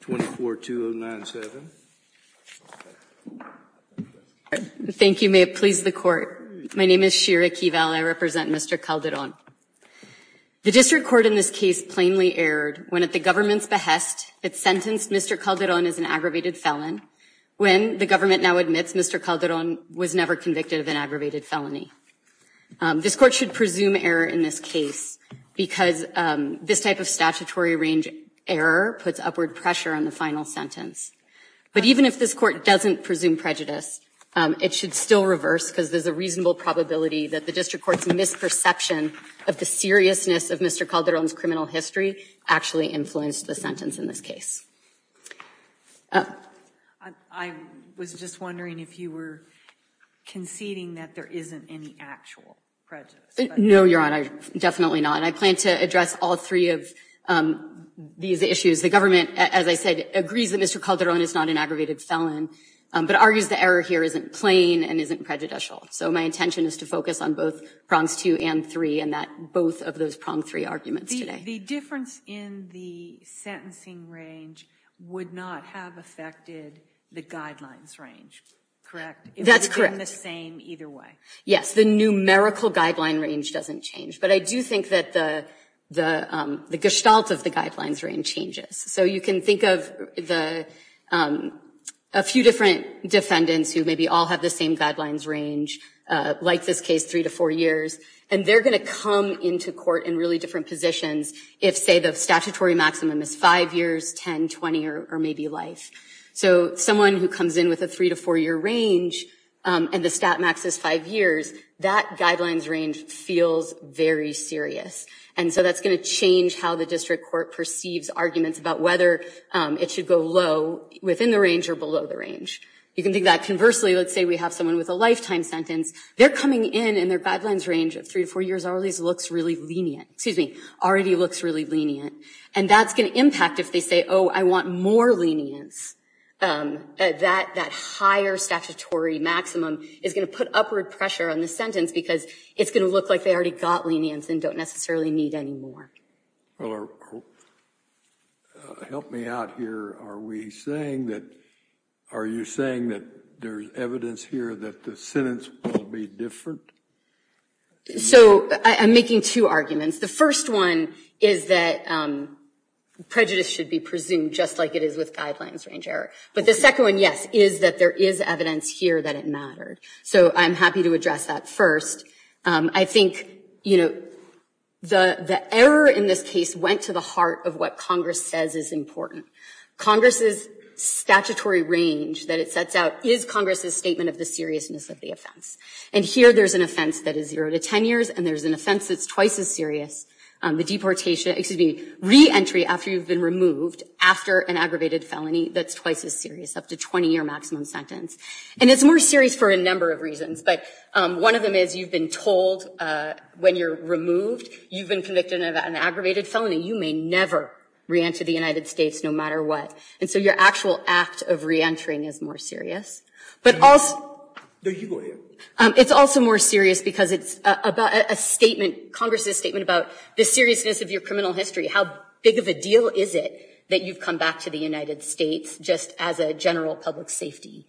24, 2097 Thank you. May it please the court. My name is Shira Kival. I represent Mr. Calderon. The district court in this case plainly erred when at the government's behest it sentenced Mr. Calderon as an aggravated felon when the government now admits Mr. Calderon was never convicted of an aggravated felony. This court should presume error in this case because this type of statutory range error puts upward pressure on the final sentence. But even if this court doesn't presume prejudice, it should still reverse because there's a reasonable probability that the district court's misperception of the seriousness of Mr. Calderon's criminal history actually influenced the sentence in this case. I was just wondering if you were conceding that there isn't any actual prejudice. No, Your Honor, definitely not. I plan to address all three of these issues. The government, as I said, agrees that Mr. Calderon is not an aggravated felon, but argues the error here isn't plain and isn't prejudicial. So my intention is to focus on both prongs two and three and that both of those prong three arguments today. The difference in the sentencing range would not have affected the guidelines range, correct? That's correct. It would have been the same either way. Yes, the numerical guideline range doesn't change, but I do think that the gestalt of the guidelines range changes. So you can think of a few different defendants who maybe all have the same guidelines range, like this case, three to four years, and they're going to come into court in really different positions if, say, the statutory maximum is five years, ten, twenty, or maybe life. So someone who comes in with a three to four year range and the stat max is five years, that guidelines range feels very serious. And so that's going to change how the district court perceives arguments about whether it should go low within the range or below the range. You can think that conversely, let's say we have someone with a lifetime sentence, they're coming in and their guidelines range of three to four years already looks really lenient, excuse me, already looks really lenient. And that's going to impact if they say, oh, I want more lenience. That higher statutory maximum is going to put upward pressure on the sentence because it's going to look like they already got lenience and don't necessarily need any more. Well, help me out here. Are we saying that, are you saying that there's evidence here that the sentence will be different? So I'm making two arguments. The first one is that prejudice should be presumed just like it is with guidelines range error. But the second one, yes, is that there is evidence here that it mattered. So I'm happy to address that first. I think, you know, the error in this case went to the heart of what Congress says is important. Congress's statutory range that it sets out is Congress's statement of the seriousness of the offense. And here there's an offense that is zero to 10 years. And there's an offense that's twice as serious. The deportation, excuse me, reentry after you've been removed after an aggravated felony that's twice as serious, up to 20 year maximum sentence. And it's more serious for a number of reasons. But one of them is you've been told when you're removed, you've been convicted of an aggravated felony. You may never reenter the United States no matter what. And so your actual act of reentering is more serious. But also, it's also more serious because it's about a statement, Congress's statement about the seriousness of your criminal history. How big of a deal is it that you've come back to the United States just as a general public safety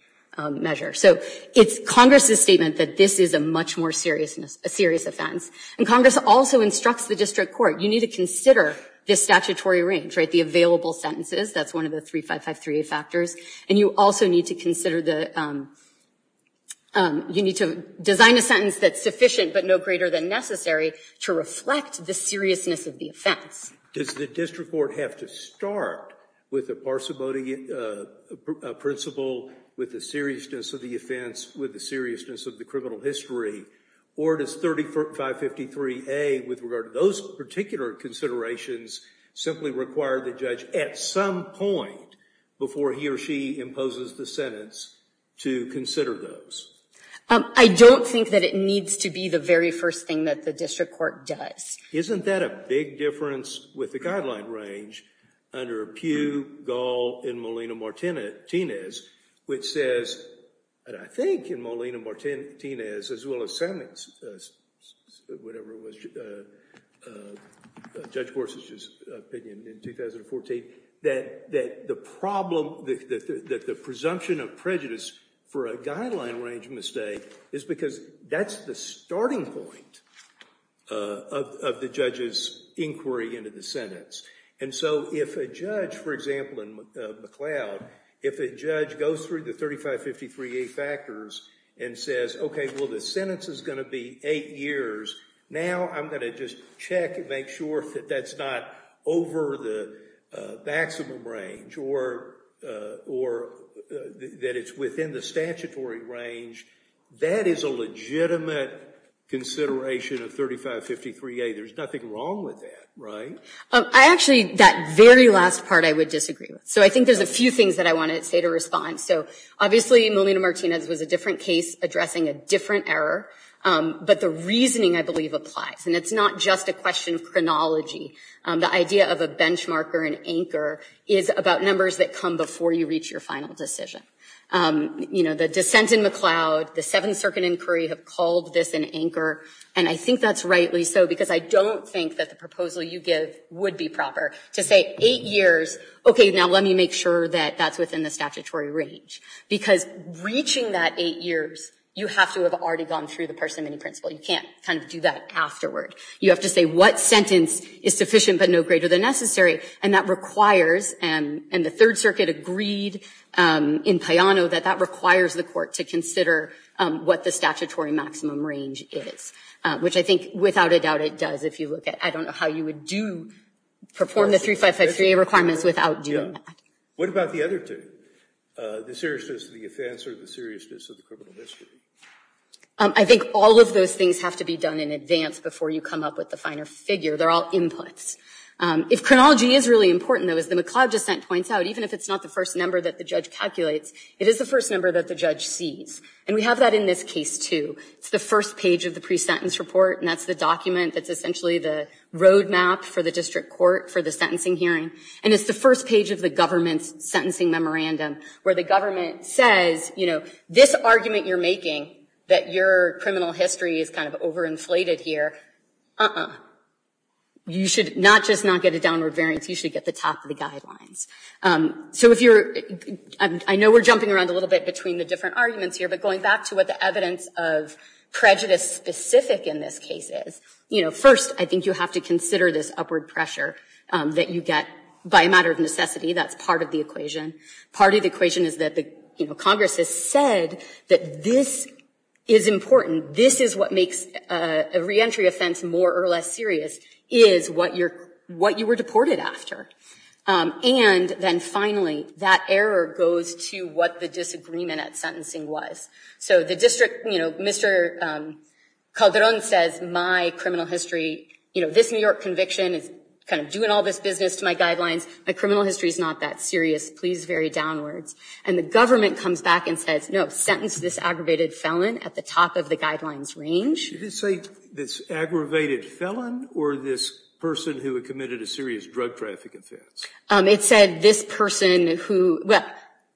measure? So it's Congress's statement that this is a much more serious offense. And Congress also instructs the district court, you need to consider the statutory range, right, the available sentences. That's one of the 3553A factors. And you also need to consider the, you need to design a sentence that's sufficient but no greater than necessary to reflect the seriousness of the offense. Does the district court have to start with a parsimony principle with the seriousness of the offense, with the seriousness of the criminal history? Or does 3553A with regard to those particular considerations simply require the judge at some point before he or she imposes the sentence to consider those? I don't think that it needs to be the very first thing that the district court does. Isn't that a big difference with the guideline range under Pew, Gall, and Molina-Martinez, which says, and I think in Molina-Martinez as well as Semmings, whatever it was, Judge Gorsuch's opinion in 2014, that the problem, that the presumption of prejudice for a guideline range mistake is because that's the starting point of the judge's inquiry into the sentence. And so if a judge, for example in McLeod, if a judge goes through the 3553A factors and says, okay, well the sentence is going to be eight years, now I'm going to just check and make sure that that's not over the maximum range or that it's within the statutory range, that is a legitimate consideration of 3553A. There's nothing wrong with that, right? I actually, that very last part I would disagree with. So I think there's a few things that I want to say to respond. So obviously Molina-Martinez was a different case addressing a different error, but the reasoning I believe applies. And it's not just a question of chronology. The idea of a benchmark or an anchor is about numbers that come before you reach your final decision. You know, the dissent in McLeod, the Seventh Circuit inquiry have called this an anchor. And I think that's rightly so, because I don't think that the proposal you give would be proper to say eight years, okay, now let me make sure that that's within the statutory range. Because reaching that eight years, you have to have already gone through the person mini-principle. You can't kind of do that afterward. You have to say what sentence is sufficient but no greater than necessary. And that requires, and the Third Circuit agreed in Payano that that requires the court to consider what the statutory maximum range is, which I think without a doubt it does if you look at, I don't know how you would do, perform the 3553A requirements without doing that. What about the other two? The seriousness of the offense or the seriousness of the criminal history? I think all of those things have to be done in advance before you come up with the finer figure. They're all inputs. If chronology is really important though, as the McLeod dissent points out, even if it's not the first number that the judge calculates, it is the first number that the judge sees. And we have that in this case too. It's the first page of the pre-sentence report, and that's the document that's essentially the roadmap for the district court for the sentencing hearing. And it's the first page of the government's sentencing memorandum where the government says, you know, this argument you're making that your criminal history is kind of overinflated here, uh-uh. You should not just not get a downward variance, you should get the top of the guidelines. I know we're jumping around a little bit between the different arguments here, but going back to what the evidence of prejudice specific in this case is, you know, first I think you have to consider this upward pressure that you get by a matter of necessity. That's part of the equation. Part of the equation is that Congress has said that this is important. This is what makes a reentry offense more or less serious, is what you were deported after. And then finally, that error goes to what the disagreement at sentencing was. So the district, you know, Mr. Calderon says, my criminal history, you know, this New York conviction is kind of doing all this business to my guidelines. My criminal history is not that serious. Please vary downwards. And the government comes back and says, no, sentence this aggravated felon at the top of the guidelines range. Did it say this aggravated felon or this person who had committed a serious drug traffic offense? It said this person who, well,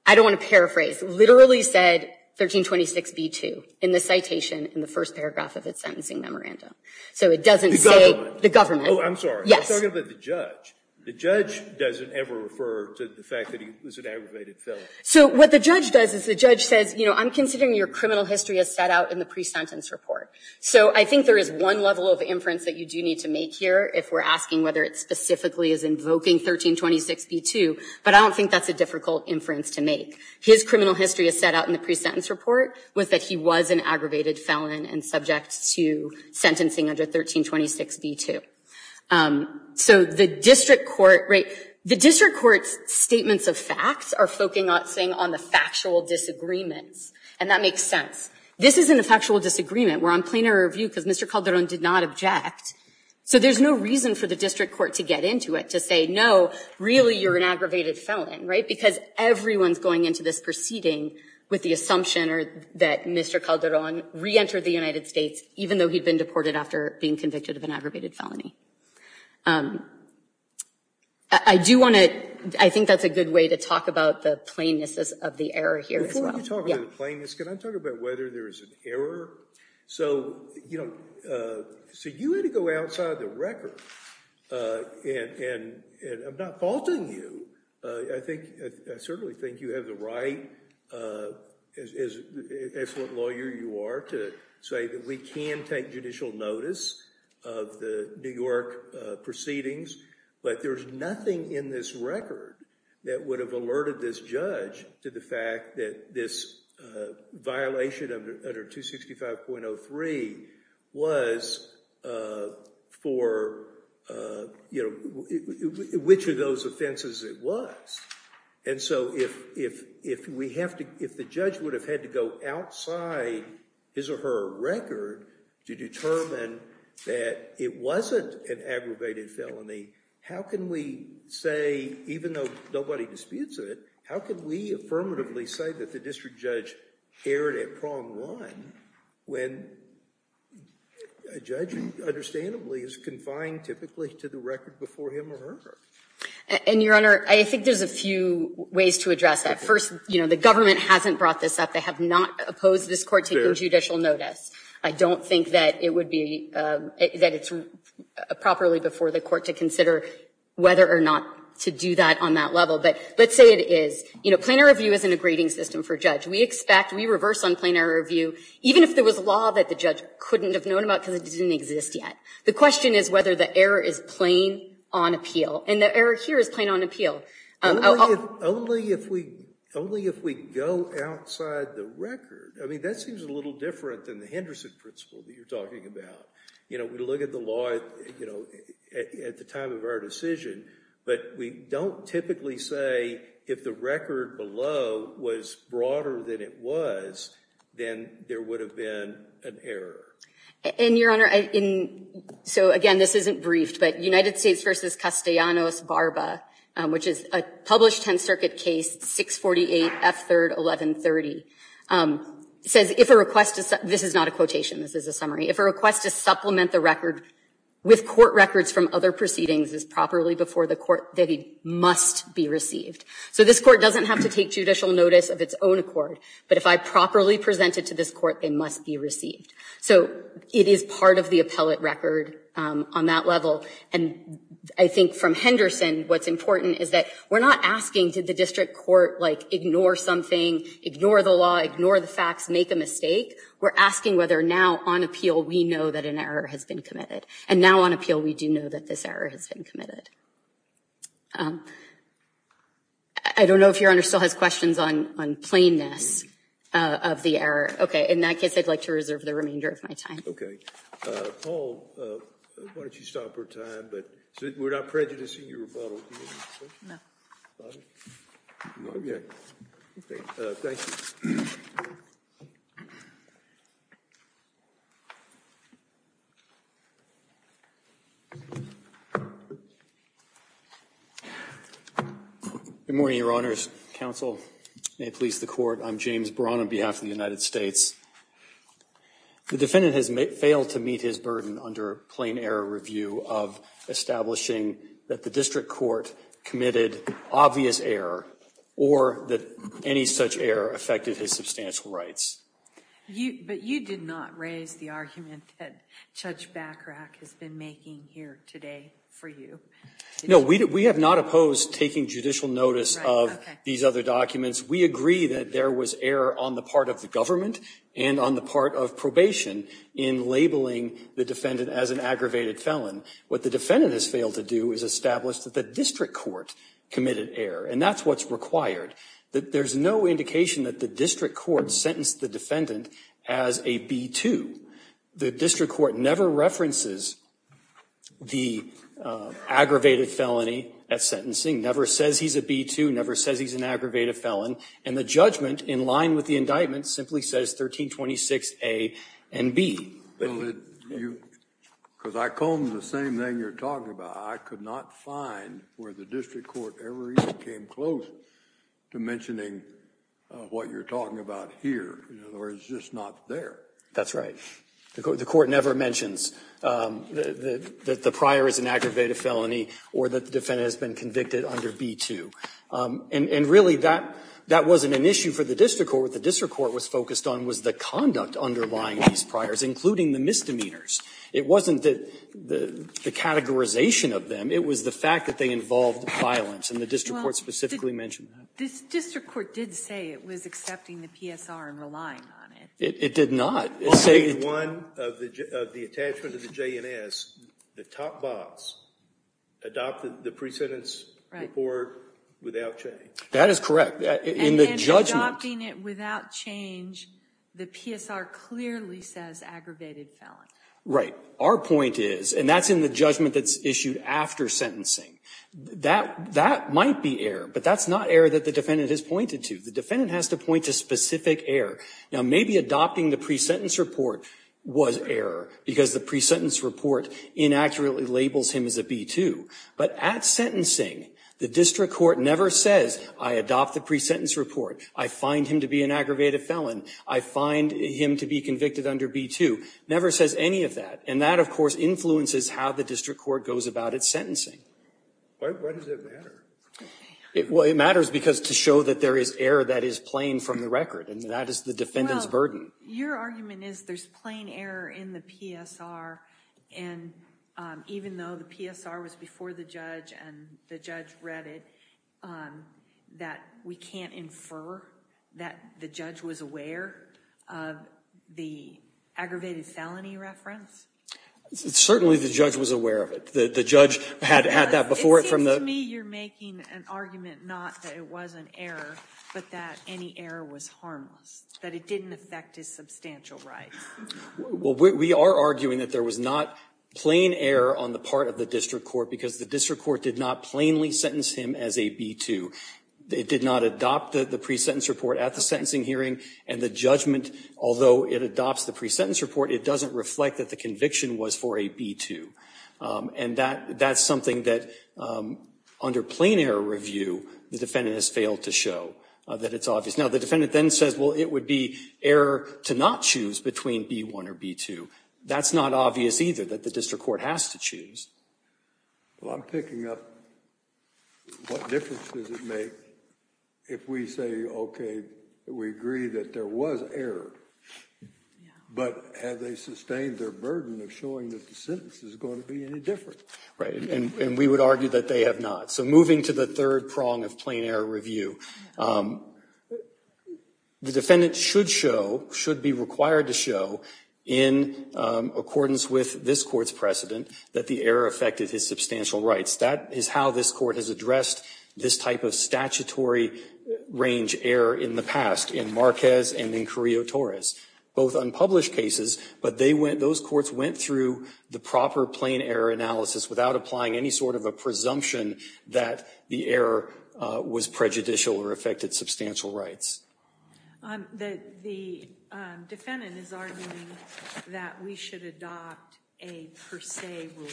I don't want to paraphrase, literally said 1326b2 in the citation in the first paragraph of its sentencing memorandum. So it doesn't say the government. Oh, I'm sorry. I'm talking about the judge. The judge doesn't ever refer to the fact that he was an aggravated felon. So what the judge does is the judge says, you know, I'm considering your criminal history as set out in the pre-sentence report. So I think there is one level of inference that you do need to make here if we're asking whether it specifically is invoking 1326b2, but I don't think that's a difficult inference to make. His criminal history as set out in the pre-sentence report was that he was an aggravated felon and subject to sentencing under 1326b2. So the district court, right, the district court's statements of facts are focusing on the factual disagreements, and that makes sense. This isn't a factual disagreement. We're on plainer review because Mr. Calderon did not object. So there's no reason for the district court to get into it to say, no, really, you're an aggravated felon, right, because everyone's going into this proceeding with the assumption that Mr. Calderon reentered the United States, even though he'd been deported after being convicted of an aggravated felony. I do want to, I think that's a good way to talk about the plainness of the error here as well. Can I talk about whether there is an error? So, you know, so you had to go outside the record, and I'm not faulting you. I think, I certainly think you have the right as what you're saying, take judicial notice of the New York proceedings, but there's nothing in this record that would have alerted this judge to the fact that this violation under 265.03 was for, you know, which of those offenses it was. And so if we have to, if the judge would have had to go outside his or her record to determine that it wasn't an aggravated felony, how can we say, even though nobody disputes it, how can we affirmatively say that the district judge erred at prong run when a judge, understandably, is confined typically to the record before him or her? And Your Honor, I think there's a few ways to address that. First, you know, the government hasn't brought this up. They have not opposed this Court taking judicial notice. I don't think that it would be, that it's properly before the Court to consider whether or not to do that on that level. But let's say it is. You know, plainer review isn't a grading system for a judge. We expect, we reverse on plainer review, even if there was a law that the judge couldn't have known about because it didn't exist yet. The question is whether the error is plain on appeal. And the error here is plain on appeal. Only if we, only if we go outside the record. I mean, that seems a little different than the Henderson principle that you're talking about. You know, we look at the law, you know, at the time of our decision, but we don't typically say if the record below was broader than it was, then there would have been an error. And Your Honor, so again, this isn't briefed, but United States v. Castellanos Barba, which is a published Tenth Circuit case, 648 F. 3rd, 1130, says if a request to, this is not a quotation, this is a summary, if a request to supplement the record with court records from other proceedings as properly before the Court, that it must be received. So this Court doesn't have to take judicial notice of its own accord, but if I properly present it to this Court, it must be received. So it is part of the appellate record on that level. And I think from Henderson's perspective, what's important is that we're not asking, did the district court ignore something, ignore the law, ignore the facts, make a mistake? We're asking whether now, on appeal, we know that an error has been committed. And now on appeal, we do know that this error has been committed. I don't know if Your Honor still has questions on plainness of the error. Okay, in that case, I'd like to reserve the remainder of my time. Okay. Paul, why don't you stop our time. We're not prejudicing your rebuttal. No. Okay. Thank you. Good morning, Your Honors. Counsel, and may it please the Court, I'm James Braun on behalf of the United States. The defendant has failed to meet his burden under plain error review of establishing that the district court committed obvious error or that any such error affected his substantial rights. But you did not raise the argument that Judge Bachrach has been making here today for you. No, we have not opposed taking judicial notice of these other documents. We agree that there was error on the part of the government and on the part of probation in labeling the defendant as an aggravated felon. What the defendant has failed to do is establish that the district court committed error, and that's what's required. There's no indication that the district court sentenced the defendant as a B-2. The district court never references the aggravated felony at sentencing, never says he's a B-2, never says he's an aggravated felon, and the judgment in line with the indictment simply says 1326A and B. Because I combed the same thing you're talking about. I could not find where the district court ever even came close to mentioning what you're talking about here. In other words, it's just not there. That's right. The court never mentions that the prior is an aggravated felony or that the defendant is a B-2. And really, that wasn't an issue for the district court. What the district court was focused on was the conduct underlying these priors, including the misdemeanors. It wasn't the categorization of them. It was the fact that they involved violence. And the district court specifically mentioned that. This district court did say it was accepting the PSR and relying on it. It did not. It said it didn't. Right. Or without change. That is correct. In the judgment. And then adopting it without change, the PSR clearly says aggravated felony. Right. Our point is, and that's in the judgment that's issued after sentencing, that might be error. But that's not error that the defendant has pointed to. The defendant has to point to specific error. Now, maybe adopting the pre-sentence report was error because the pre-sentence report inaccurately labels him as a B-2. But at sentencing, the district court never says, I adopt the pre-sentence report. I find him to be an aggravated felon. I find him to be convicted under B-2. Never says any of that. And that, of course, influences how the district court goes about its sentencing. Why does that matter? Well, it matters because to show that there is error that is plain from the record. And that is the defendant's burden. Well, your argument is there's plain error in the PSR. And even though the PSR was before the judge and the judge read it, that we can't infer that the judge was aware of the aggravated felony reference? Certainly, the judge was aware of it. The judge had that before it from the – It seems to me you're making an argument not that it was an error, but that any error was harmless. That it didn't affect his substantial rights. Well, we are arguing that there was not plain error on the part of the district court because the district court did not plainly sentence him as a B-2. It did not adopt the pre-sentence report at the sentencing hearing. And the judgment, although it adopts the pre-sentence report, it doesn't reflect that the conviction was for a B-2. And that's something that under plain error review, the defendant has failed to show that it's obvious. Now, the defendant then says, well, it would be error to not choose between B-1 or B-2. That's not obvious either that the district court has to choose. Well, I'm picking up what difference does it make if we say, okay, we agree that there was error, but have they sustained their burden of showing that the sentence is going to be any different? Right. And we would argue that they have not. So moving to the third prong of plain error review, the defendant should show, should be required to show, in accordance with this court's precedent, that the error affected his substantial rights. That is how this court has addressed this type of statutory range error in the past in Marquez and in Carrillo-Torres. Both unpublished cases, but those courts went through the proper plain error analysis without applying any sort of a presumption that the error was prejudicial or affected substantial rights. The defendant is arguing that we should adopt a per se rule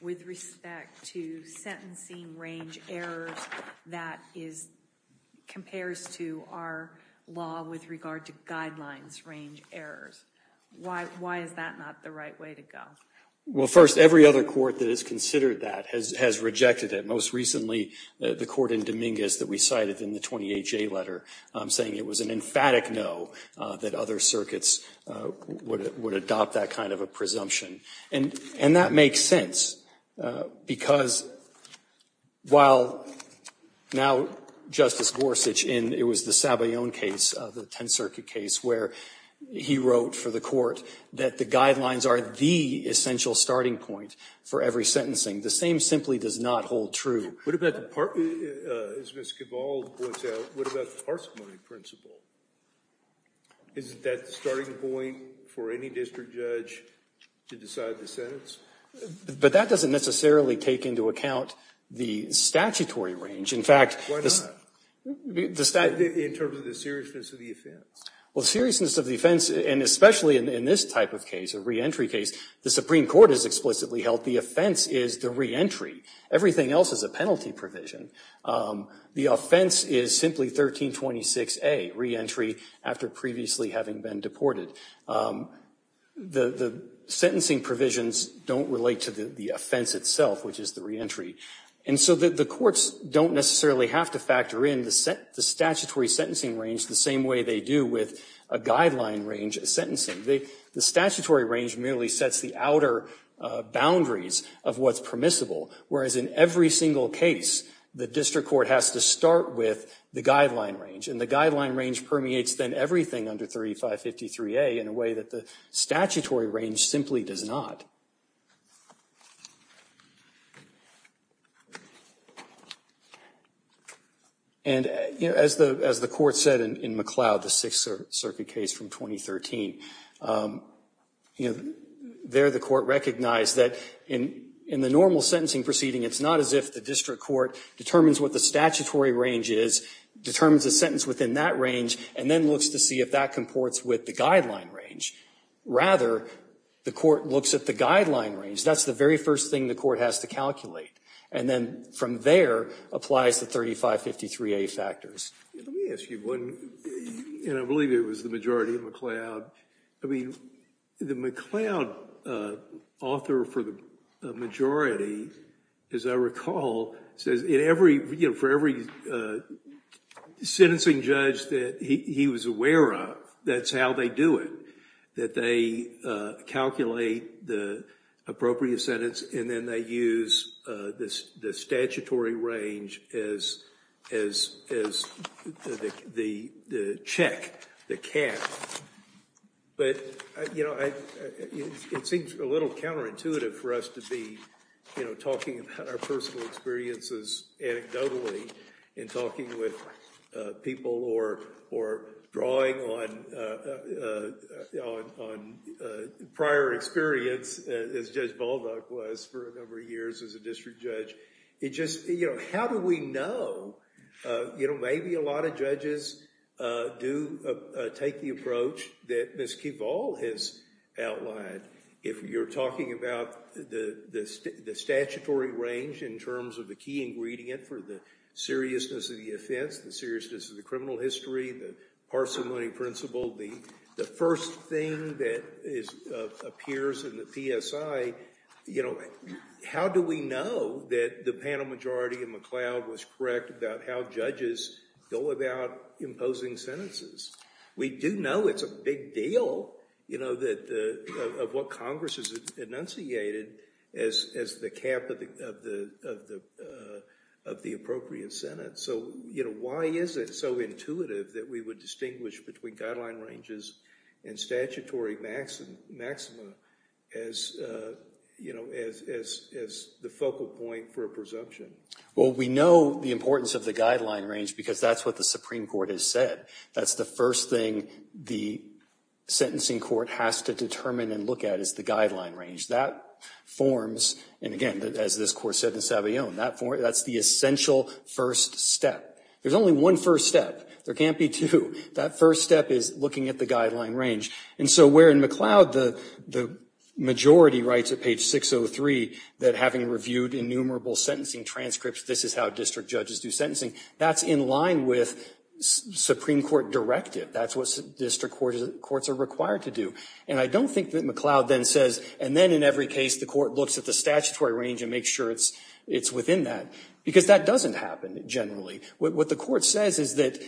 with respect to sentencing range errors that compares to our law with regard to guidelines range errors. Why is that not the right way to go? Well, first, every other court that has considered that has rejected it. Most recently, the court in Dominguez that we cited in the 28-J letter saying it was an emphatic no that other circuits would adopt that kind of a presumption. And that makes sense because while now Justice Gorsuch in, it was the Sabayon case, the Tenth Circuit case, where he wrote for the court that the essential starting point for every sentencing. The same simply does not hold true. What about the parsimony principle? Isn't that the starting point for any district judge to decide the sentence? But that doesn't necessarily take into account the statutory range. Why not? In terms of the seriousness of the offense. Well, the seriousness of the offense, and especially in this type of case, a reentry case, the Supreme Court has explicitly held the offense is the reentry. Everything else is a penalty provision. The offense is simply 1326A, reentry after previously having been deported. The sentencing provisions don't relate to the offense itself, which is the reentry. And so the courts don't necessarily have to factor in the statutory sentencing range the same way they do with a guideline range sentencing. The statutory range merely sets the outer boundaries of what's permissible, whereas in every single case, the district court has to start with the guideline range. And the guideline range permeates then everything under 3553A in a way that the statutory range simply does not. And, you know, as the court said in McLeod, the Sixth Circuit case from 2013, you know, there the court recognized that in the normal sentencing proceeding, it's not as if the district court determines what the statutory range is, determines the sentence within that range, and then looks to see if that comports with the guideline range. Rather, the court looks at the guideline range and says, That's the very first thing the court has to calculate. And then from there applies the 3553A factors. Let me ask you one, and I believe it was the majority in McLeod. I mean, the McLeod author for the majority, as I recall, says in every, you know, for every sentencing judge that he was aware of, that's how they do it. That they calculate the appropriate sentence and then they use the statutory range as the check, the cap. But, you know, it seems a little counterintuitive for us to be, you know, talking about our personal experiences anecdotally and talking with people or drawing on prior experience as Judge Baldock was for a number of years as a district judge. It just, you know, how do we know? You know, maybe a lot of judges do take the approach that Ms. Keval has outlined. If you're talking about the statutory range in terms of the key ingredient for the seriousness of the offense, the seriousness of the criminal history, the parsimony principle, the first thing that appears in the PSI, you know, how do we know that the panel majority in McLeod was correct about how judges go about imposing sentences? We do know it's a big deal, you know, of what Congress has enunciated as the cap of the appropriate sentence. So, you know, why is it so intuitive that we would distinguish between guideline ranges and statutory maxima as, you know, as the focal point for a presumption? Well, we know the importance of the guideline range because that's what the Supreme Court has said. That's the first thing the sentencing court has to determine and look at is the guideline range. That forms, and again, as this court said in Savillon, that's the essential first step. There's only one first step. There can't be two. That first step is looking at the guideline range. And so where in McLeod the majority writes at page 603 that having reviewed innumerable sentencing transcripts, this is how district judges do sentencing, that's in line with Supreme Court directive. That's what district courts are required to do. And I don't think that McLeod then says, and then in every case the court looks at the statutory range and makes sure it's within that, because that doesn't happen generally. What the court says is that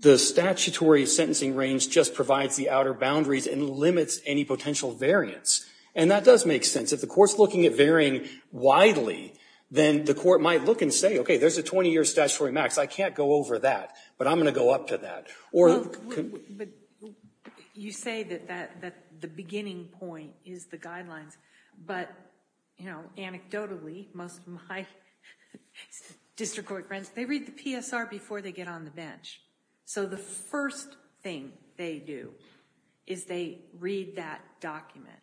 the statutory sentencing range just provides the outer boundaries and limits any potential variance. And that does make sense. If the court's looking at varying widely, then the court might look and say, okay, there's a 20-year statutory max. I can't go over that, but I'm going to go up to that. Or... Well, you say that the beginning point is the guidelines, but anecdotally most of my district court friends, they read the PSR before they get on the bench. So the first thing they do is they read that document.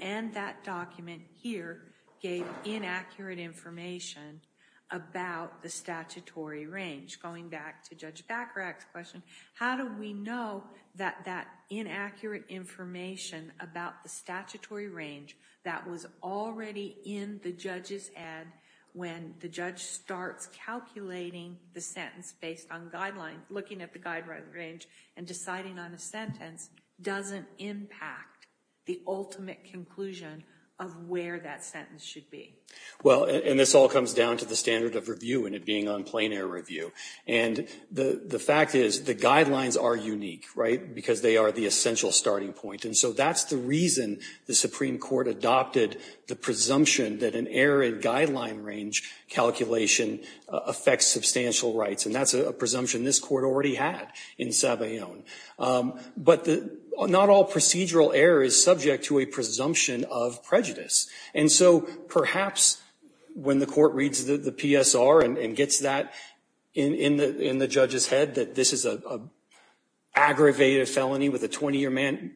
And that document here gave inaccurate information about the statutory range. Going back to Judge Bacharach's question, how do we know that that inaccurate information about the statutory range that was already in the judge's ad, when the judge starts calculating the sentence based on guidelines, looking at the guideline range and deciding on a sentence, doesn't impact the ultimate conclusion of where that sentence should be? Well, and this all comes down to the standard of review and it being on plain error review. And the fact is the guidelines are unique, right, because they are the essential starting point. And so that's the reason the Supreme Court adopted the presumption that an error in guideline range calculation affects substantial rights. And that's a presumption this court already had in Savillon. But not all procedural error is subject to a presumption of prejudice. And so perhaps when the court reads the PSR and gets that in the judge's head, that this is an aggravated felony with a 20-year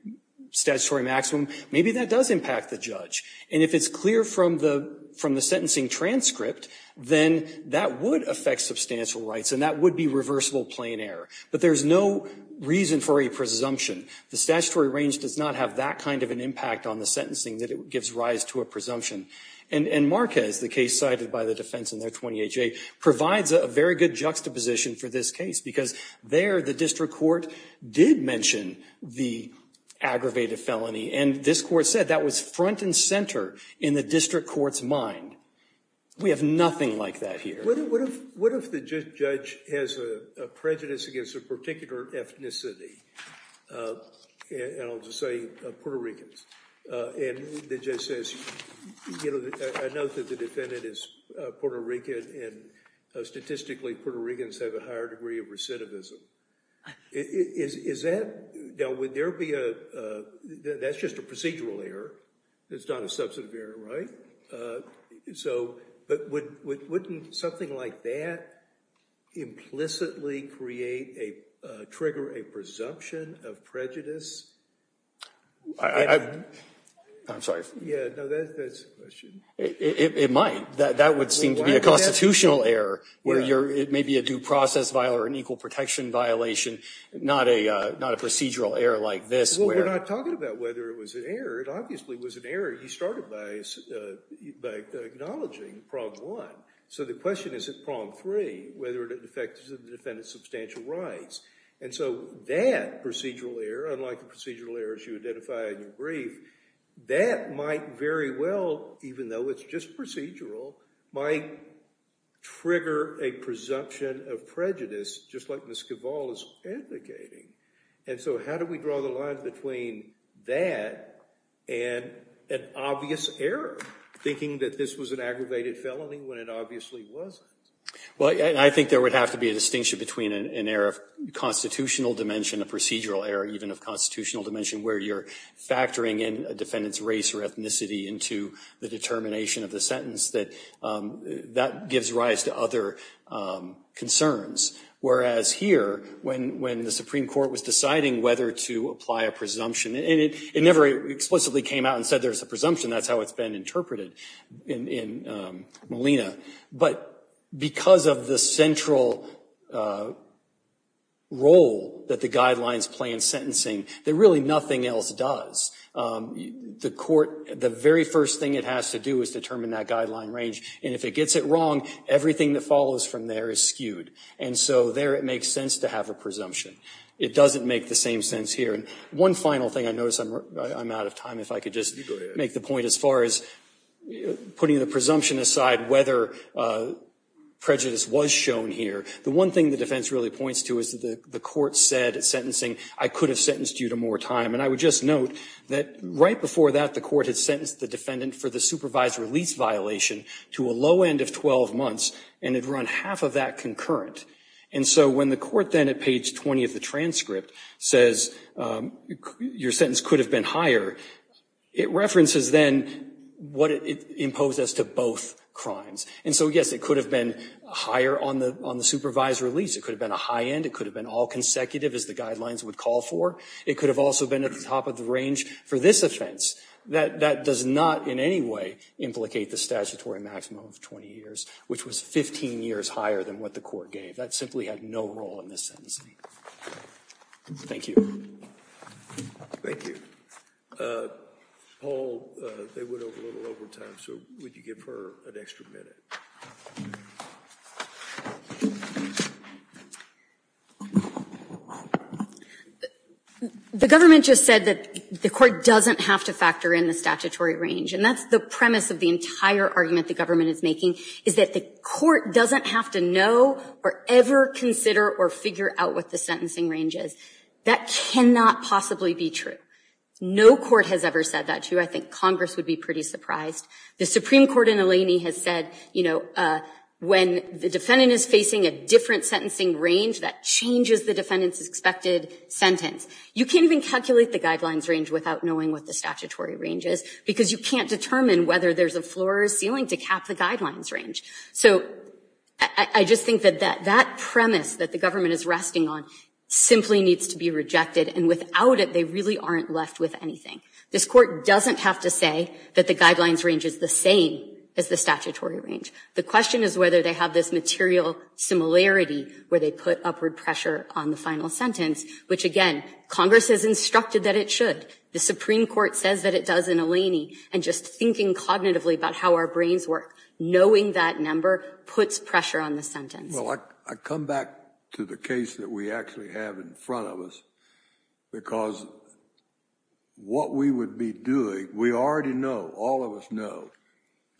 statutory maximum, maybe that does impact the judge. And if it's clear from the sentencing transcript, then that would affect substantial rights and that would be reversible plain error. But there's no reason for a presumption. The statutory range does not have that kind of an impact on the sentencing that it gives rise to a presumption. And Marquez, the case cited by the defense in their 20HA, provides a very good juxtaposition for this case because there the district court did mention the aggravated felony and this court said that was front and center in the district court's mind. We have nothing like that here. What if the judge has a prejudice against a particular ethnicity? And I'll just say Puerto Ricans. And the judge says, you know, I know that the defendant is Puerto Rican and statistically Puerto Ricans have a higher degree of recidivism. Is that, now would there be a, that's just a procedural error. It's not a substantive error, right? So, but wouldn't something like that implicitly create a trigger, a presumption of prejudice? I'm sorry. Yeah, no, that's a question. It might. That would seem to be a constitutional error where it may be a due process violation or an equal protection violation, not a procedural error like this. Well, we're not talking about whether it was an error. It obviously was an error. You started by acknowledging prong one. So the question is at prong three, whether it affected the defendant's substantial rights. And so that procedural error, unlike the procedural errors you identified in your brief, that might very well, even though it's just procedural, might trigger a presumption of prejudice, just like Ms. Cavall is indicating. And so how do we draw the line between that and an obvious error, thinking that this was an aggravated felony when it obviously wasn't? Well, I think there would have to be a distinction between an error of constitutional dimension, a procedural error even of constitutional dimension, where you're factoring in a defendant's race or ethnicity into the determination of the sentence. That gives rise to other concerns. Whereas here, when the Supreme Court was deciding whether to apply a presumption, and it never explicitly came out and said there's a presumption. That's how it's been interpreted in Molina. But because of the central role that the guidelines play in sentencing, there really nothing else does. The court, the very first thing it has to do is determine that guideline range. And if it gets it wrong, everything that follows from there is skewed. And so there it makes sense to have a presumption. It doesn't make the same sense here. One final thing, I notice I'm out of time, if I could just make the point as far as putting the presumption aside whether prejudice was shown here. The one thing the defense really points to is that the court said at sentencing, I could have sentenced you to more time. And I would just note that right before that, the court had sentenced the defendant for the supervised release violation to a low end of 12 months, and had run half of that concurrent. And so when the court then at page 20 of the transcript says your sentence could have been higher, it references then what it imposed as to both crimes. And so yes, it could have been higher on the supervised release. It could have been a high end. It could have been all consecutive as the guidelines would call for. It could have also been at the top of the range for this offense. That does not in any way implicate the statutory maximum of 20 years, which was 15 years higher than what the court gave. That simply had no role in this sentencing. Thank you. Thank you. Paul, they went over a little over time, so would you give her an extra minute? The government just said that the court doesn't have to factor in the statutory range. And that's the premise of the entire argument the government is making, is that the court doesn't have to know or ever consider or figure out what the sentencing range is. That cannot possibly be true. No court has ever said that to you. I think Congress would be pretty surprised. The Supreme Court in Eleni has said, you know, when the defendant is facing a different sentencing range, that changes the defendant's expected sentence. You can't even calculate the guidelines range without knowing what the statutory range is because you can't determine whether there's a floor or ceiling to cap the guidelines range. So I just think that that premise that the government is resting on simply needs to be rejected. And without it, they really aren't left with anything. This court doesn't have to say that the guidelines range is the same as the statutory range. The question is whether they have this material similarity where they put upward pressure on the final sentence, which, again, Congress has instructed that it should. The Supreme Court says that it does in Eleni. And just thinking cognitively about how our brains work, knowing that number puts pressure on the sentence. Well, I come back to the case that we actually have in front of us because what we would be doing, we already know, all of us know,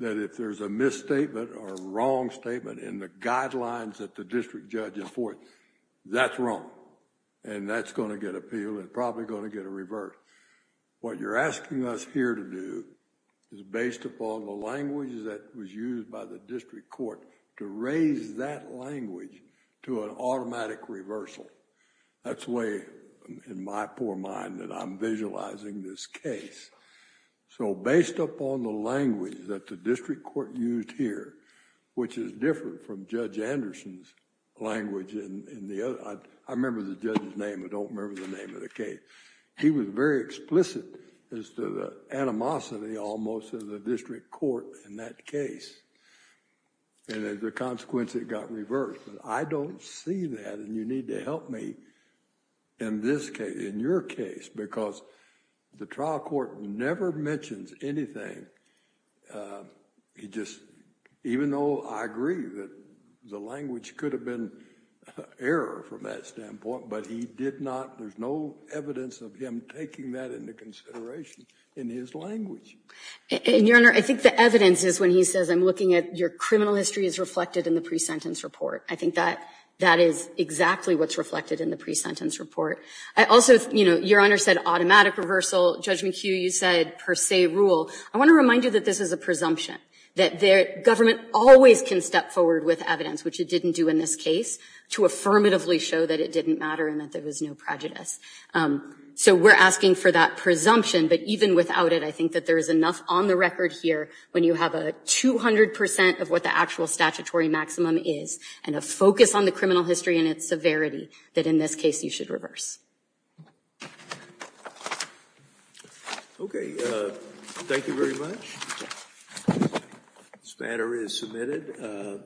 that if there's a misstatement or a wrong statement in the guidelines that the district judge is for, that's wrong. And that's going to get appealed and probably going to get a reverse. What you're asking us here to do is based upon the language that was used by the district court to raise that language to an automatic reversal. That's the way, in my poor mind, that I'm visualizing this case. So based upon the language that the district court used here, which is different from Judge Anderson's language in the other, I remember the judge's name. I don't remember the name of the case. He was very explicit as to the animosity almost of the district court in that case. And as a consequence, it got reversed. But I don't see that, and you need to help me in this case, in your case, because the trial court never mentions anything. He just, even though I agree that the language could have been error from that standpoint, but he did not, there's no evidence of him taking that into consideration in his language. And, Your Honor, I think the evidence is when he says, I'm looking at your criminal history is reflected in the pre-sentence report. I think that is exactly what's reflected in the pre-sentence report. I also, Your Honor, said automatic reversal. Judge McHugh, you said per se rule. I want to remind you that this is a presumption, that government always can step forward with evidence, which it didn't do in this case, to affirmatively show that it didn't matter and that there was no prejudice. So we're asking for that presumption, but even without it, I think that there is enough on the record here when you have a 200% of what the actual statutory maximum is and a focus on the criminal history and its severity that in this case you should reverse. Okay. Thank you very much. This matter is submitted.